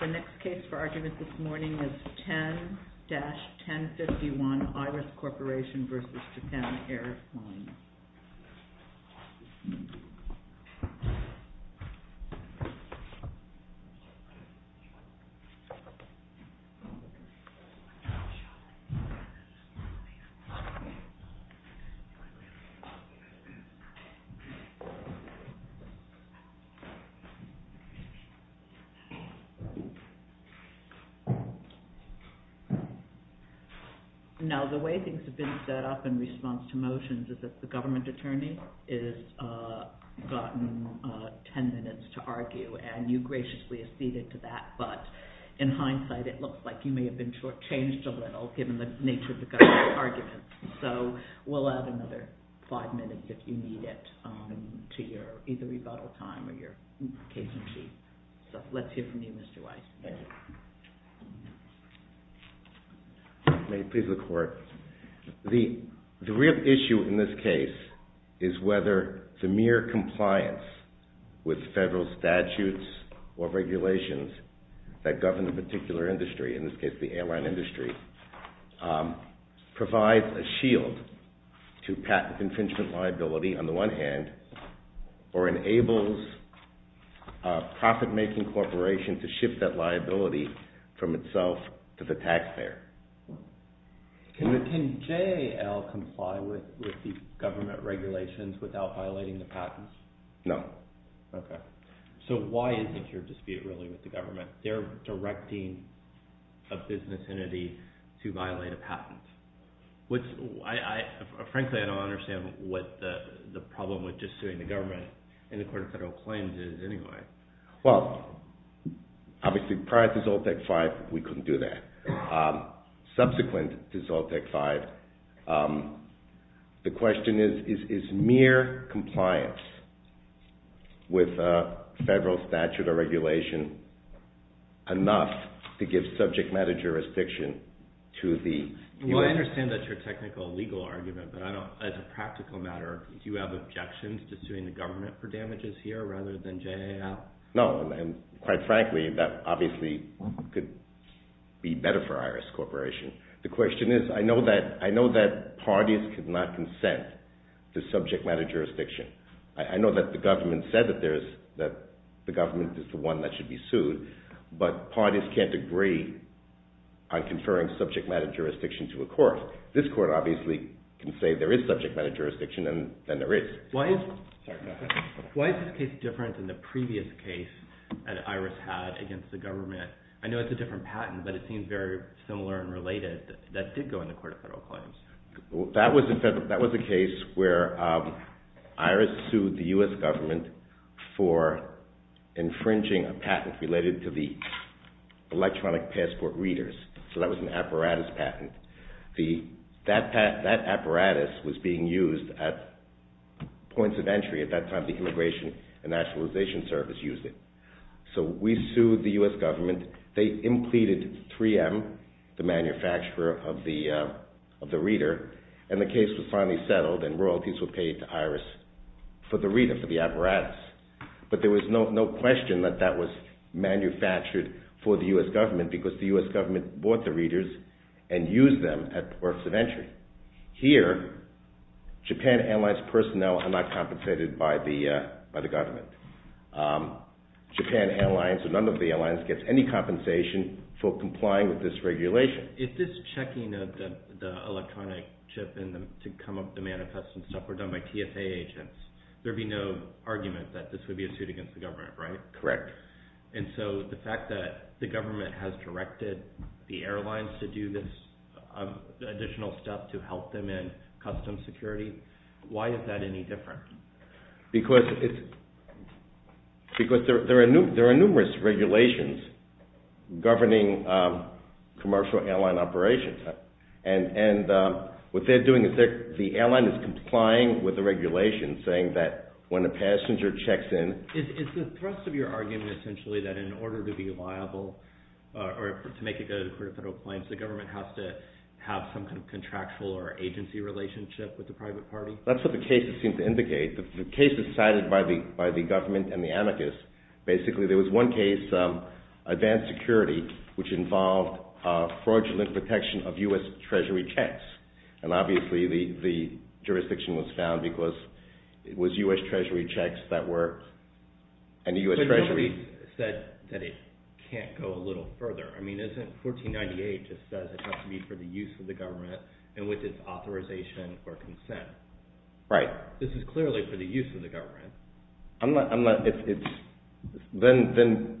The next case for argument this morning is 10-1051 IRIS CORP v. JAPAN AIRLINES. Now, the way things have been set up in response to motions is that the government attorney has gotten 10 minutes to argue, and you graciously acceded to that, but in hindsight, it looks like you may have been shortchanged a little given the nature of the government's arguments. So, we'll add another five minutes if you need it to either your rebuttal time or your case in chief. So, let's hear from you, Mr. Weiss. Thank you. May I please look forward? The real issue in this case is whether the mere compliance with federal statutes or regulations that govern a particular industry, in this case the airline industry, provides a shield to patent infringement liability on the one hand, or enables a profit-making corporation to shift that liability from itself to the taxpayer. Can JAL comply with the government regulations without violating the patents? No. So, why is it your dispute really with the government? They're directing a business entity to violate a patent. Frankly, I don't understand what the problem with just suing the government in accordance with federal claims is anyway. Well, obviously prior to Zoltec V, we couldn't do that. Subsequent to Zoltec V, the question is, is mere compliance with federal statute or regulation enough to give subject matter jurisdiction to the... Well, I understand that's your technical legal argument, but as a practical matter, do you have objections to suing the government for damages here rather than JAL? No, and quite frankly, that obviously could be better for Iris Corporation. The question is, I know that parties cannot consent to subject matter jurisdiction. I know that the government said that the government is the one that should be sued, but parties can't agree on conferring subject matter jurisdiction to a court. This court obviously can say there is subject matter jurisdiction, and then there is. Why is this case different than the previous case that Iris had against the government? I know it's a different patent, but it seems very similar and related. That did go in the court of federal claims. That was a case where Iris sued the U.S. government for infringing a patent related to the electronic passport readers. So that was an apparatus patent. That apparatus was being used at points of entry at that time the Immigration and Nationalization Service used it. So we sued the U.S. government. They implemented 3M, the manufacturer of the reader, and the case was finally settled and royalties were paid to Iris for the reader, for the apparatus. But there was no question that that was manufactured for the U.S. government because the U.S. government bought the readers and used them at points of entry. Here, Japan Airlines personnel are not compensated by the government. Japan Airlines or none of the airlines gets any compensation for complying with this regulation. Is this checking of the electronic chip to come up the manifest and stuff were done by TSA agents, there would be no argument that this would be a suit against the government, right? Correct. And so the fact that the government has directed the airlines to do this additional stuff to help them in custom security, why is that any different? Because there are numerous regulations governing commercial airline operations. And what they're doing is the airline is complying with the regulations saying that when a passenger checks in... Is the thrust of your argument essentially that in order to be liable or to make it go to the court of federal claims, the government has to have some kind of contractual or agency relationship with the private party? That's what the cases seem to indicate. The cases cited by the government and the amicus, basically there was one case, advanced security, which involved fraudulent protection of U.S. Treasury checks. And obviously the jurisdiction was found because it was U.S. Treasury checks that were... But nobody said that it can't go a little further. I mean, isn't 1498 just says it has to be for the use of the government and with its authorization or consent? Right. This is clearly for the use of the government. Then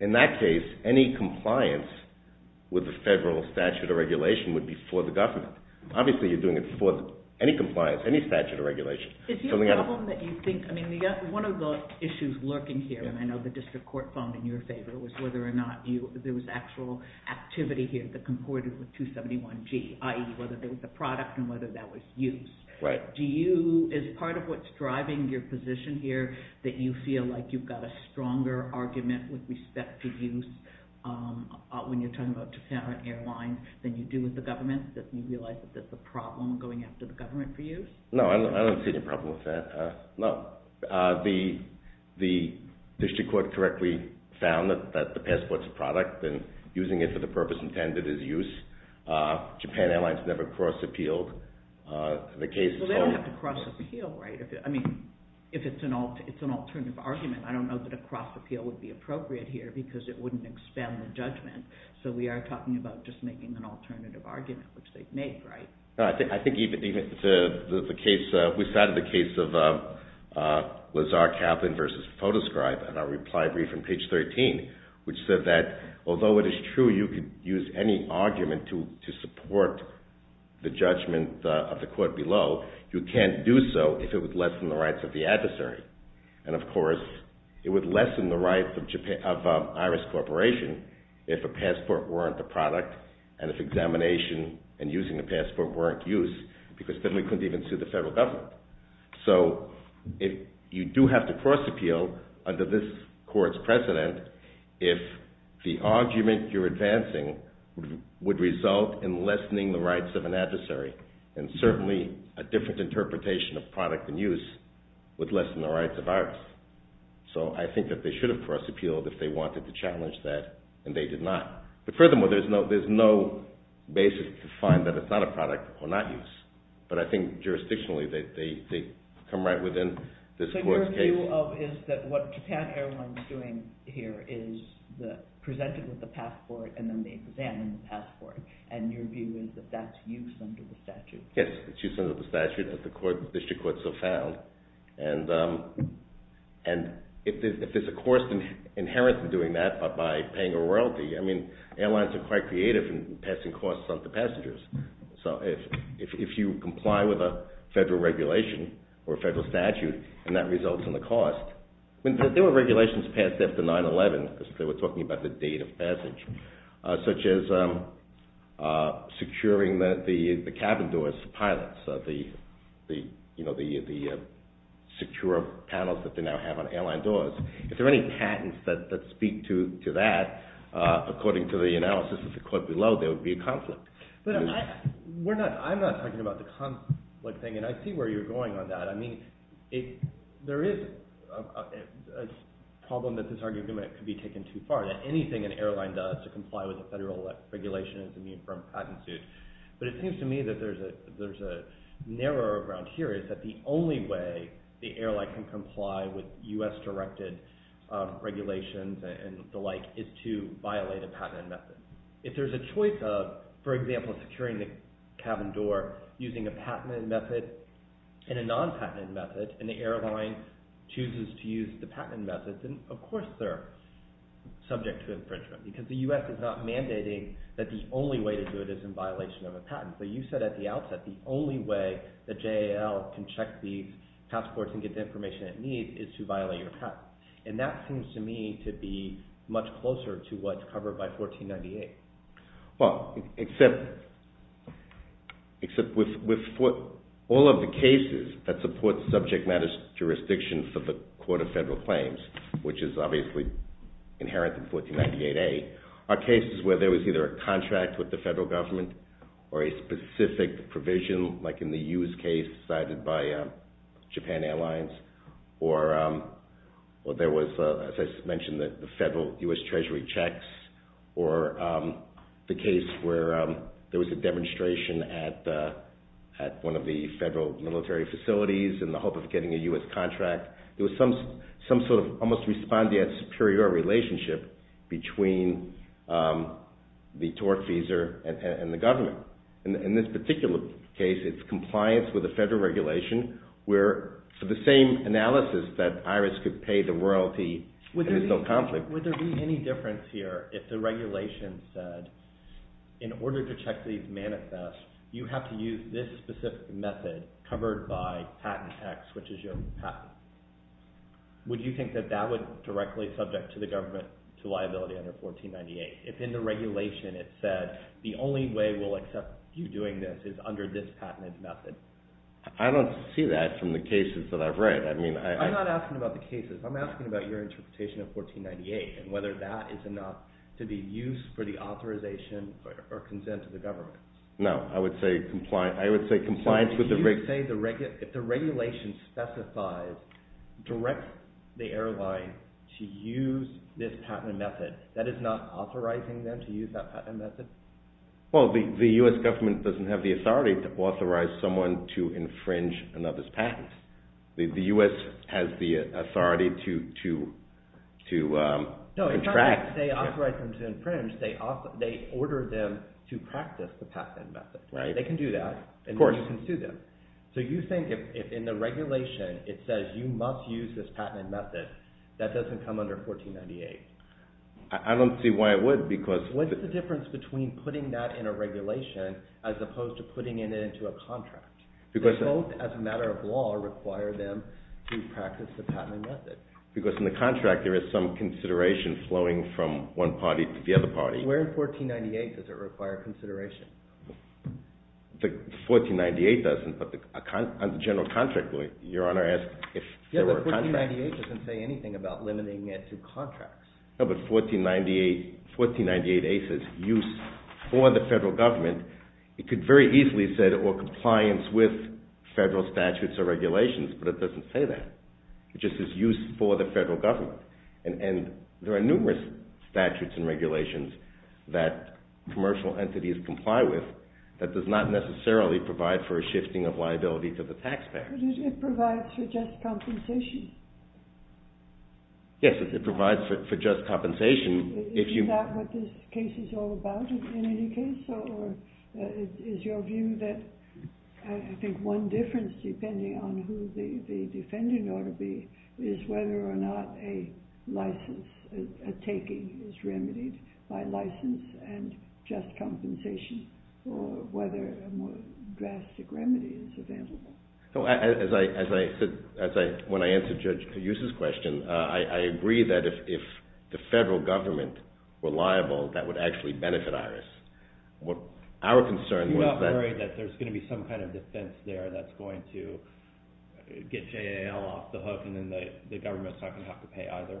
in that case, any compliance with the federal statute of regulation would be for the government. Obviously you're doing it for any compliance, any statute of regulation. Is the problem that you think... I mean, one of the issues lurking here, and I know the district court phoned in your favor, was whether or not there was actual activity here that comported with 271G, i.e. whether there was a product and whether that was used. Right. Is part of what's driving your position here that you feel like you've got a stronger argument with respect to use when you're talking about Japan Airlines than you do with the government, that you realize that there's a problem going after the government for use? No, I don't see any problem with that. No. The district court correctly found that the passport's a product and using it for the purpose intended is use. Japan Airlines never cross-appealed the case. Well, they don't have to cross-appeal, right? I mean, if it's an alternative argument, I don't know that a cross-appeal would be appropriate here because it wouldn't expand the judgment. So we are talking about just making an alternative argument, which they've made, right? I think we cited the case of Lazar Kaplan v. Photoscribe in our reply brief on page 13, which said that although it is true you could use any argument to support the judgment of the court below, you can't do so if it would lessen the rights of the adversary. And, of course, it would lessen the rights of Iris Corporation if a passport weren't a product and if examination and using a passport weren't used because then we couldn't even sue the federal government. So you do have to cross-appeal under this court's precedent if the argument you're advancing would result in lessening the rights of an adversary. And certainly a different interpretation of product and use would lessen the rights of Iris. So I think that they should have cross-appealed if they wanted to challenge that, and they did not. But furthermore, there's no basis to find that it's not a product or not use. But I think jurisdictionally they come right within this court's case. So your view is that what Japan Airlines is doing here is presenting with a passport and then they examine the passport, and your view is that that's use under the statute? Yes, it's use under the statute as the district courts have found. And if there's a cost inherent to doing that by paying a royalty, I mean airlines are quite creative in passing costs on to passengers. So if you comply with a federal regulation or a federal statute and that results in a cost, I mean there were regulations passed after 9-11 because they were talking about the date of passage, such as securing the cabin doors of pilots, the secure panels that they now have on airline doors. If there are any patents that speak to that, according to the analysis of the court below, there would be a conflict. But I'm not talking about the conflict thing, and I see where you're going on that. I mean there is a problem that this argument could be taken too far. Anything an airline does to comply with a federal regulation is immune from a patent suit. But it seems to me that there's a narrower ground here. It's that the only way the airline can comply with U.S.-directed regulations and the like is to violate a patent method. If there's a choice of, for example, securing the cabin door using a patent method and a non-patent method, and the airline chooses to use the patent method, then of course they're subject to infringement because the U.S. is not mandating that the only way to do it is in violation of a patent. But you said at the outset the only way the JAL can check these passports and get the information it needs is to violate your patent. And that seems to me to be much closer to what's covered by 1498. Except with all of the cases that support subject matter jurisdiction for the Court of Federal Claims, which is obviously inherent in 1498A, are cases where there was either a contract with the federal government or a specific provision, like in the Hughes case cited by Japan Airlines, or there was, as I mentioned, the federal U.S. Treasury checks, or the case where there was a demonstration at one of the federal military facilities in the hope of getting a U.S. contract. There was some sort of almost respondeat superior relationship between the tortfeasor and the government. In this particular case, it's compliance with the federal regulation, where for the same analysis that IRIS could pay the royalty, there's no conflict. Would there be any difference here if the regulation said, in order to check these manifests, you have to use this specific method covered by patent X, which is your patent? Would you think that that would be directly subject to the government to liability under 1498? If in the regulation it said, the only way we'll accept you doing this is under this patented method? I don't see that from the cases that I've read. I'm not asking about the cases. I'm asking about your interpretation of 1498 and whether that is enough to be used for the authorization or consent of the government. No, I would say compliance with the regulation. If the regulation specifies direct the airline to use this patent method, that is not authorizing them to use that patent method? Well, the U.S. government doesn't have the authority to authorize someone to infringe another's patent. The U.S. has the authority to contract. No, it's not like they authorize them to infringe. They order them to practice the patent method. They can do that, and then you can sue them. So you think if in the regulation it says you must use this patented method, that doesn't come under 1498? I don't see why it would. What's the difference between putting that in a regulation as opposed to putting it into a contract? Both, as a matter of law, require them to practice the patented method. Because in the contract there is some consideration flowing from one party to the other party. Where in 1498 does it require consideration? 1498 doesn't, but on the general contract, your Honor asked if there were contracts. Yes, but 1498 doesn't say anything about limiting it to contracts. No, but 1498A says use for the federal government. It could very easily have said or compliance with federal statutes or regulations, but it doesn't say that. It just says use for the federal government. And there are numerous statutes and regulations that commercial entities comply with that does not necessarily provide for a shifting of liability to the taxpayer. But it provides for just compensation. Yes, it provides for just compensation. Is that what this case is all about in any case? Is your view that I think one difference, depending on who the defendant ought to be, is whether or not a license, a taking, is remedied by license and just compensation, or whether a more drastic remedy is available. As I said when I answered Judge Ayuso's question, I agree that if the federal government were liable, that would actually benefit IRIS. Our concern was that... You're not worried that there's going to be some kind of defense there that's going to get JAL off the hook, and then the government's not going to have to pay either?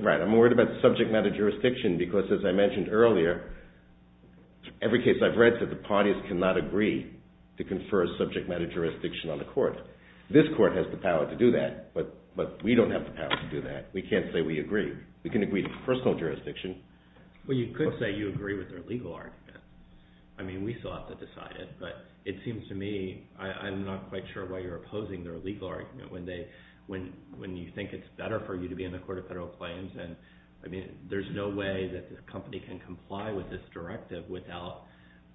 Right, I'm worried about the subject matter jurisdiction, because as I mentioned earlier, every case I've read said the parties cannot agree to confer a subject matter jurisdiction on the court. This court has the power to do that, but we don't have the power to do that. We can't say we agree. We can agree to personal jurisdiction. Well, you could say you agree with their legal argument. I mean, we still have to decide it. But it seems to me, I'm not quite sure why you're opposing their legal argument when you think it's better for you to be in the Court of Federal Claims. I mean, there's no way that the company can comply with this directive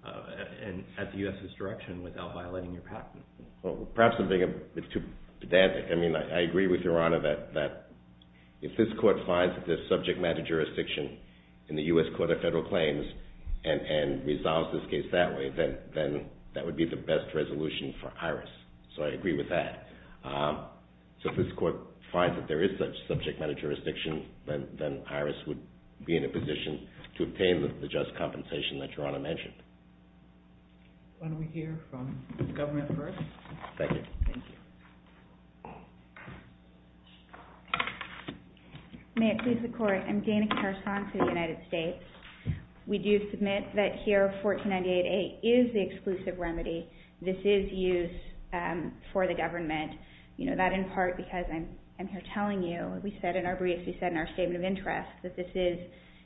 at the U.S.'s direction without violating your patent. Well, perhaps I'm being a bit too pedantic. I mean, I agree with Your Honor that if this court finds that there's subject matter jurisdiction in the U.S. Court of Federal Claims and resolves this case that way, then that would be the best resolution for IRIS. So I agree with that. So if this court finds that there is such subject matter jurisdiction, then IRIS would be in a position to obtain the just compensation that Your Honor mentioned. Why don't we hear from the government first? Thank you. Thank you. May it please the Court, I'm Dana Carson for the United States. We do submit that here 1498A is the exclusive remedy. This is used for the government. You know, that in part because I'm here telling you, we said in our briefs, we said in our Statement of Interest that this is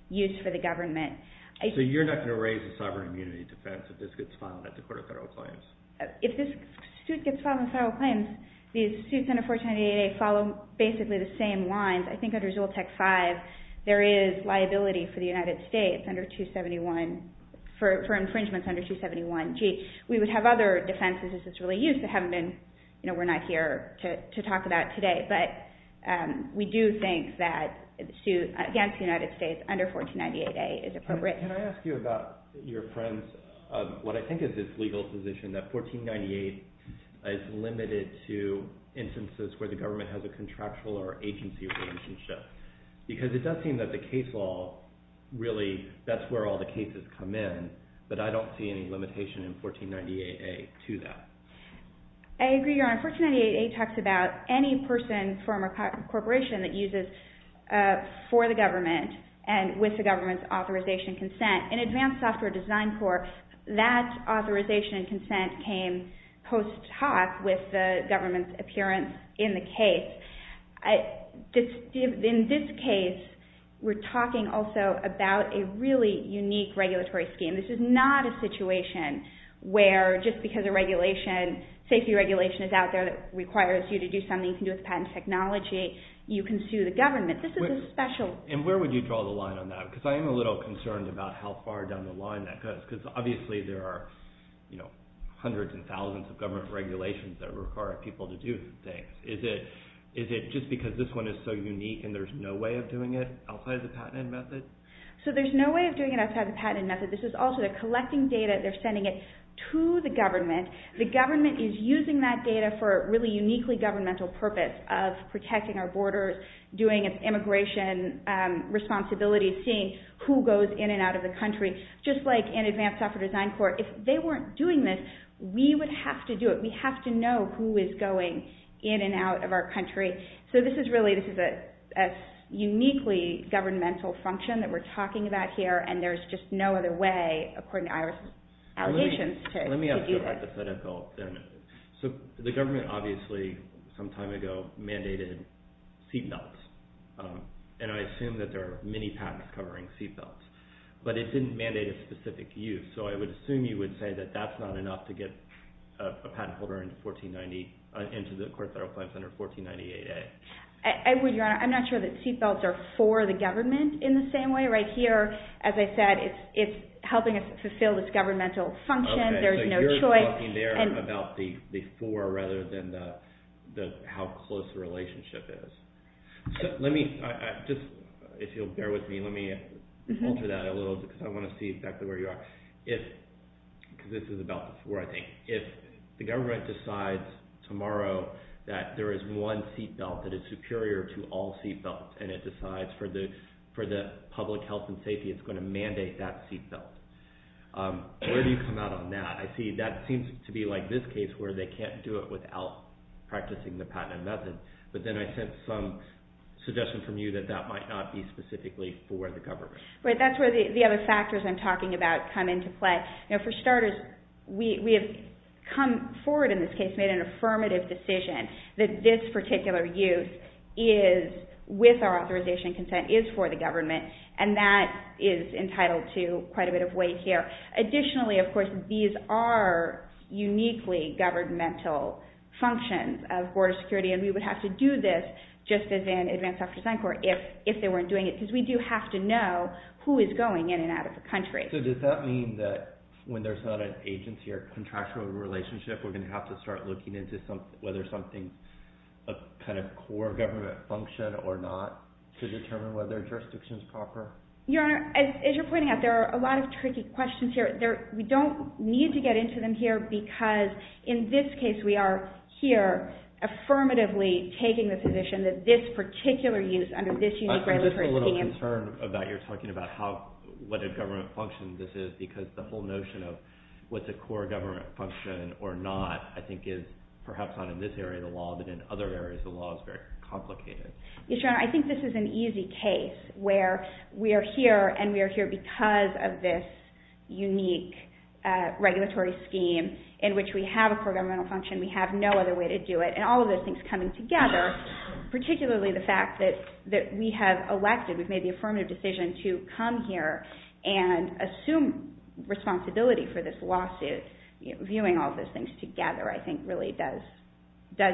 used for the government. So you're not going to raise the sovereign immunity defense if this gets filed at the Court of Federal Claims? If this suit gets filed in Federal Claims, these suits under 1498A follow basically the same lines. I think under Zoltec V, there is liability for the United States under 271, for infringements under 271G. We would have other defenses as it's really used that haven't been, you know, we're not here to talk about today. But we do think that the suit against the United States under 1498A is appropriate. Can I ask you about your friend's, what I think is his legal position, that 1498 is limited to instances where the government has a contractual or agency relationship? Because it does seem that the case law really, that's where all the cases come in. But I don't see any limitation in 1498A to that. I agree, Your Honor. 1498A talks about any person, firm, or corporation that uses for the government and with the government's authorization consent. In advanced software design court, that authorization and consent came post hoc with the government's appearance in the case. In this case, we're talking also about a really unique regulatory scheme. This is not a situation where just because a regulation, safety regulation is out there that requires you to do something to do with patent technology, you can sue the government. This is a special... And where would you draw the line on that? Because I am a little concerned about how far down the line that goes. Because obviously there are, you know, hundreds and thousands of government regulations that require people to do things. Is it just because this one is so unique and there's no way of doing it outside of the patent method? So there's no way of doing it outside of the patent method. This is also they're collecting data, they're sending it to the government. The government is using that data for a really uniquely governmental purpose of protecting our borders, doing its immigration responsibilities, seeing who goes in and out of the country. Just like in advanced software design court, if they weren't doing this, we would have to do it. We have to know who is going in and out of our country. So this is really... This is a uniquely governmental function that we're talking about here and there's just no other way, according to IRS allegations, to do this. Let me ask you a hypothetical then. So the government obviously, some time ago, mandated seatbelts. And I assume that there are many patents covering seatbelts. But it didn't mandate a specific use. So I would assume you would say that that's not enough to get a patent holder into 1490... into the court that applies under 1498A. I would, Your Honor. I'm not sure that seatbelts are for the government in the same way. Right here, as I said, it's helping us fulfill this governmental function. There's no choice. So you're talking there about the for rather than how close the relationship is. So let me... If you'll bear with me, let me alter that a little because I want to see exactly where you are. If... Because this is about the for, I think. If the government decides tomorrow that there is one seatbelt that is superior to all seatbelts and it decides for the public health and safety it's going to mandate that seatbelt, where do you come out on that? I see that seems to be like this case where they can't do it without practicing the patent method. But then I sense some suggestion from you that that might not be specifically for the government. Right. That's where the other factors I'm talking about come into play. Now, for starters, we have come forward in this case, made an affirmative decision, that this particular use is, with our authorization and consent, is for the government, and that is entitled to quite a bit of weight here. Additionally, of course, these are uniquely governmental functions of border security, and we would have to do this just as in advance after sign court if they weren't doing it because we do have to know who is going in and out of the country. So does that mean that when there's not an agency or contractual relationship we're going to have to start looking into whether something's a kind of core government function or not to determine whether a jurisdiction is proper? Your Honor, as you're pointing out, there are a lot of tricky questions here. We don't need to get into them here because in this case we are here affirmatively taking the position that this particular use under this unique regulatory scheme. I'm just a little concerned that you're talking about what a government function this is because the whole notion of what's a core government function or not, I think, is perhaps not in this area of the law, but in other areas of the law it's very complicated. Your Honor, I think this is an easy case where we are here and we are here because of this unique regulatory scheme in which we have a core governmental function, we have no other way to do it, and all of those things coming together, particularly the fact that we have elected, we've made the affirmative decision to come here and assume responsibility for this lawsuit, viewing all of those things together, I think really does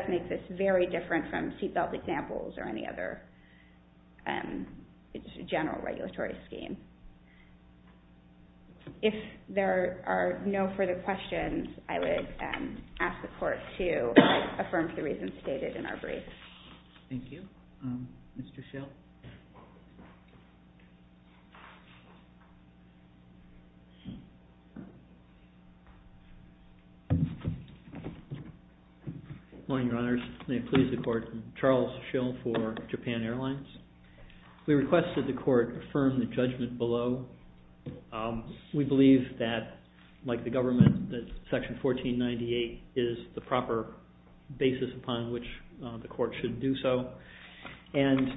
make this very different from seatbelt examples or any other general regulatory scheme. If there are no further questions, I would ask the Court to affirm the reasons stated in our brief. Thank you. Mr. Schill. Good morning, Your Honors. May it please the Court, Charles Schill for Japan Airlines. We request that the Court affirm the judgment below. We believe that, like the government, that Section 1498 is the proper basis upon which the Court should do so, and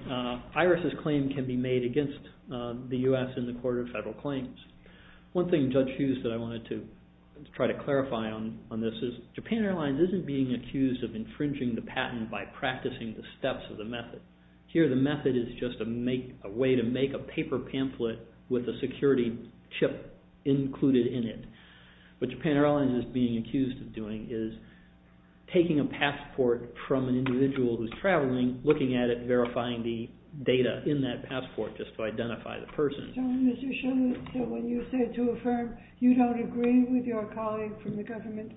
Iris' claim can be made against the U.S. in the Court of Federal Claims. One thing Judge Hughes and I wanted to try to clarify on this is Japan Airlines isn't being accused of infringing the patent by practicing the steps of the method. Here, the method is just a way to make a paper pamphlet with a security chip included in it. What Japan Airlines is being accused of doing is taking a passport from an individual who's traveling, looking at it, verifying the data in that passport just to identify the person. Mr. Schill, when you say to affirm, you don't agree with your colleague from the government?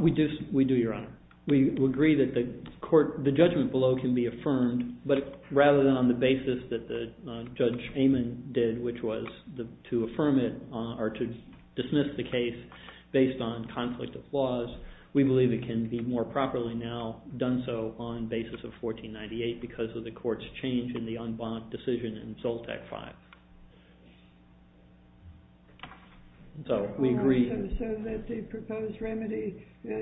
We do, Your Honor. We agree that the judgment below can be affirmed, but rather than on the basis that Judge Amon did, which was to affirm it, or to dismiss the case based on conflict of flaws, we believe it can be more properly now done so on the basis of 1498 because of the Court's change in the en banc decision in Zoltac V. So we agree. So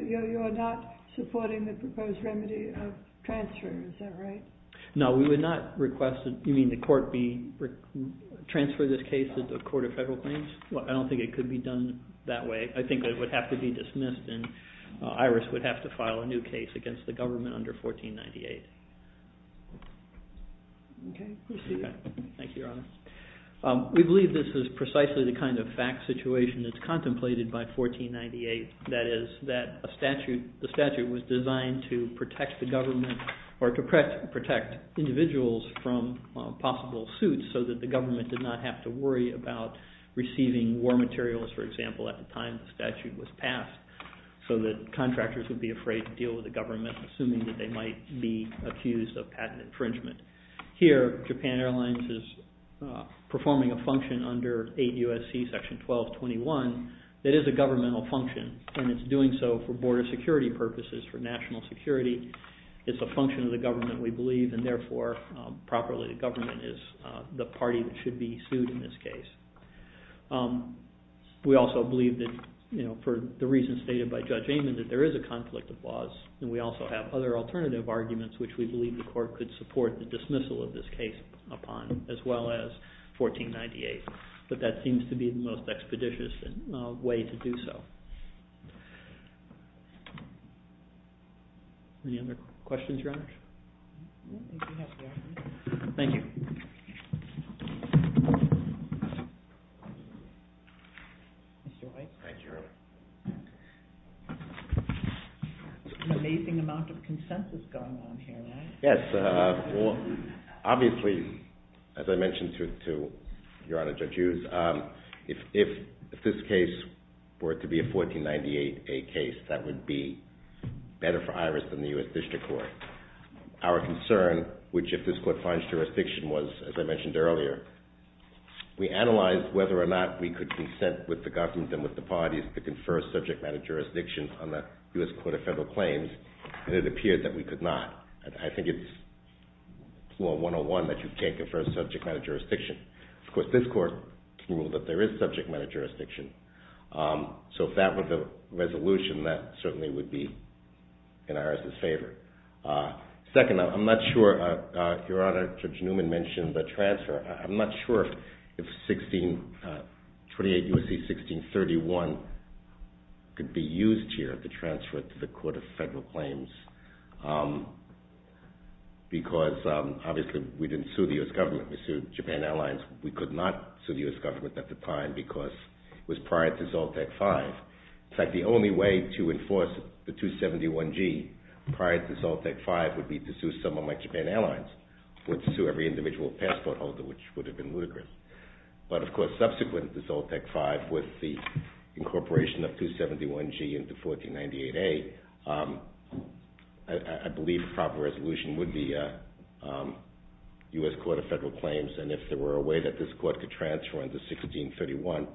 you're not supporting the proposed remedy of transfer, is that right? No, we would not request that the Court transfer this case to the Court of Federal Claims. I don't think it could be done that way. I think it would have to be dismissed and IRIS would have to file a new case against the government under 1498. Okay. Proceed. Thank you, Your Honor. We believe this is precisely the kind of fact situation that's contemplated by 1498, that is, that the statute was designed to protect the government or to protect individuals from possible suits so that the government did not have to worry about receiving war materials, for example, at the time the statute was passed so that contractors would be afraid to deal with the government assuming that they might be accused of patent infringement. Here, Japan Airlines is performing a function under 8 U.S.C. section 1221 that is a governmental function and it's doing so for border security purposes, for national security. It's a function of the government, we believe, and therefore, properly the government is the party that should be sued in this case. We also believe that, you know, for the reasons stated by Judge Amon, that there is a conflict of laws and we also have other alternative arguments which we believe the court could support the dismissal of this case upon as well as 1498. But that seems to be the most expeditious way to do so. Any other questions, Your Honor? No, thank you. Thank you. Mr. White. Thank you, Your Honor. An amazing amount of consensus going on here, right? Yes. Well, obviously, as I mentioned to Your Honor, Judge Hughes, if this case were to be a 1498A case, that would be better for IRIS than the U.S. District Court. Our concern, which if this court finds jurisdiction was, as I mentioned earlier, we analyzed whether or not we could consent with the government and with the parties to confer subject matter jurisdiction on the U.S. Court of Federal Claims, and it appeared that we could not. I think it's 101 that you can't confer subject matter jurisdiction. Of course, this court can rule that there is subject matter jurisdiction. So if that were the resolution, that certainly would be in IRIS' favor. Second, I'm not sure, Your Honor, Judge Newman mentioned the transfer. I'm not sure if 1628 U.S.C. 1631 could be used here to transfer to the Court of Federal Claims because obviously we didn't sue the U.S. government. We sued Japan Airlines. We could not sue the U.S. government at the time because it was prior to SALT Act V. In fact, the only way to enforce the 271G prior to SALT Act V would be to sue someone like Japan Airlines. We would sue every individual passport holder, which would have been ludicrous. But, of course, subsequent to SALT Act V with the incorporation of 271G into 1498A, I believe a proper resolution would be U.S. Court of Federal Claims, and if there were a way that this court could transfer under 1631,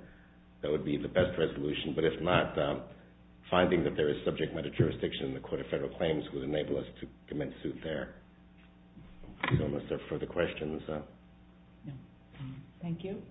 that would be the best resolution. But if not, finding that there is subject matter jurisdiction in the Court of Federal Claims would enable us to commence suit there. I don't know if there are further questions. Thank you.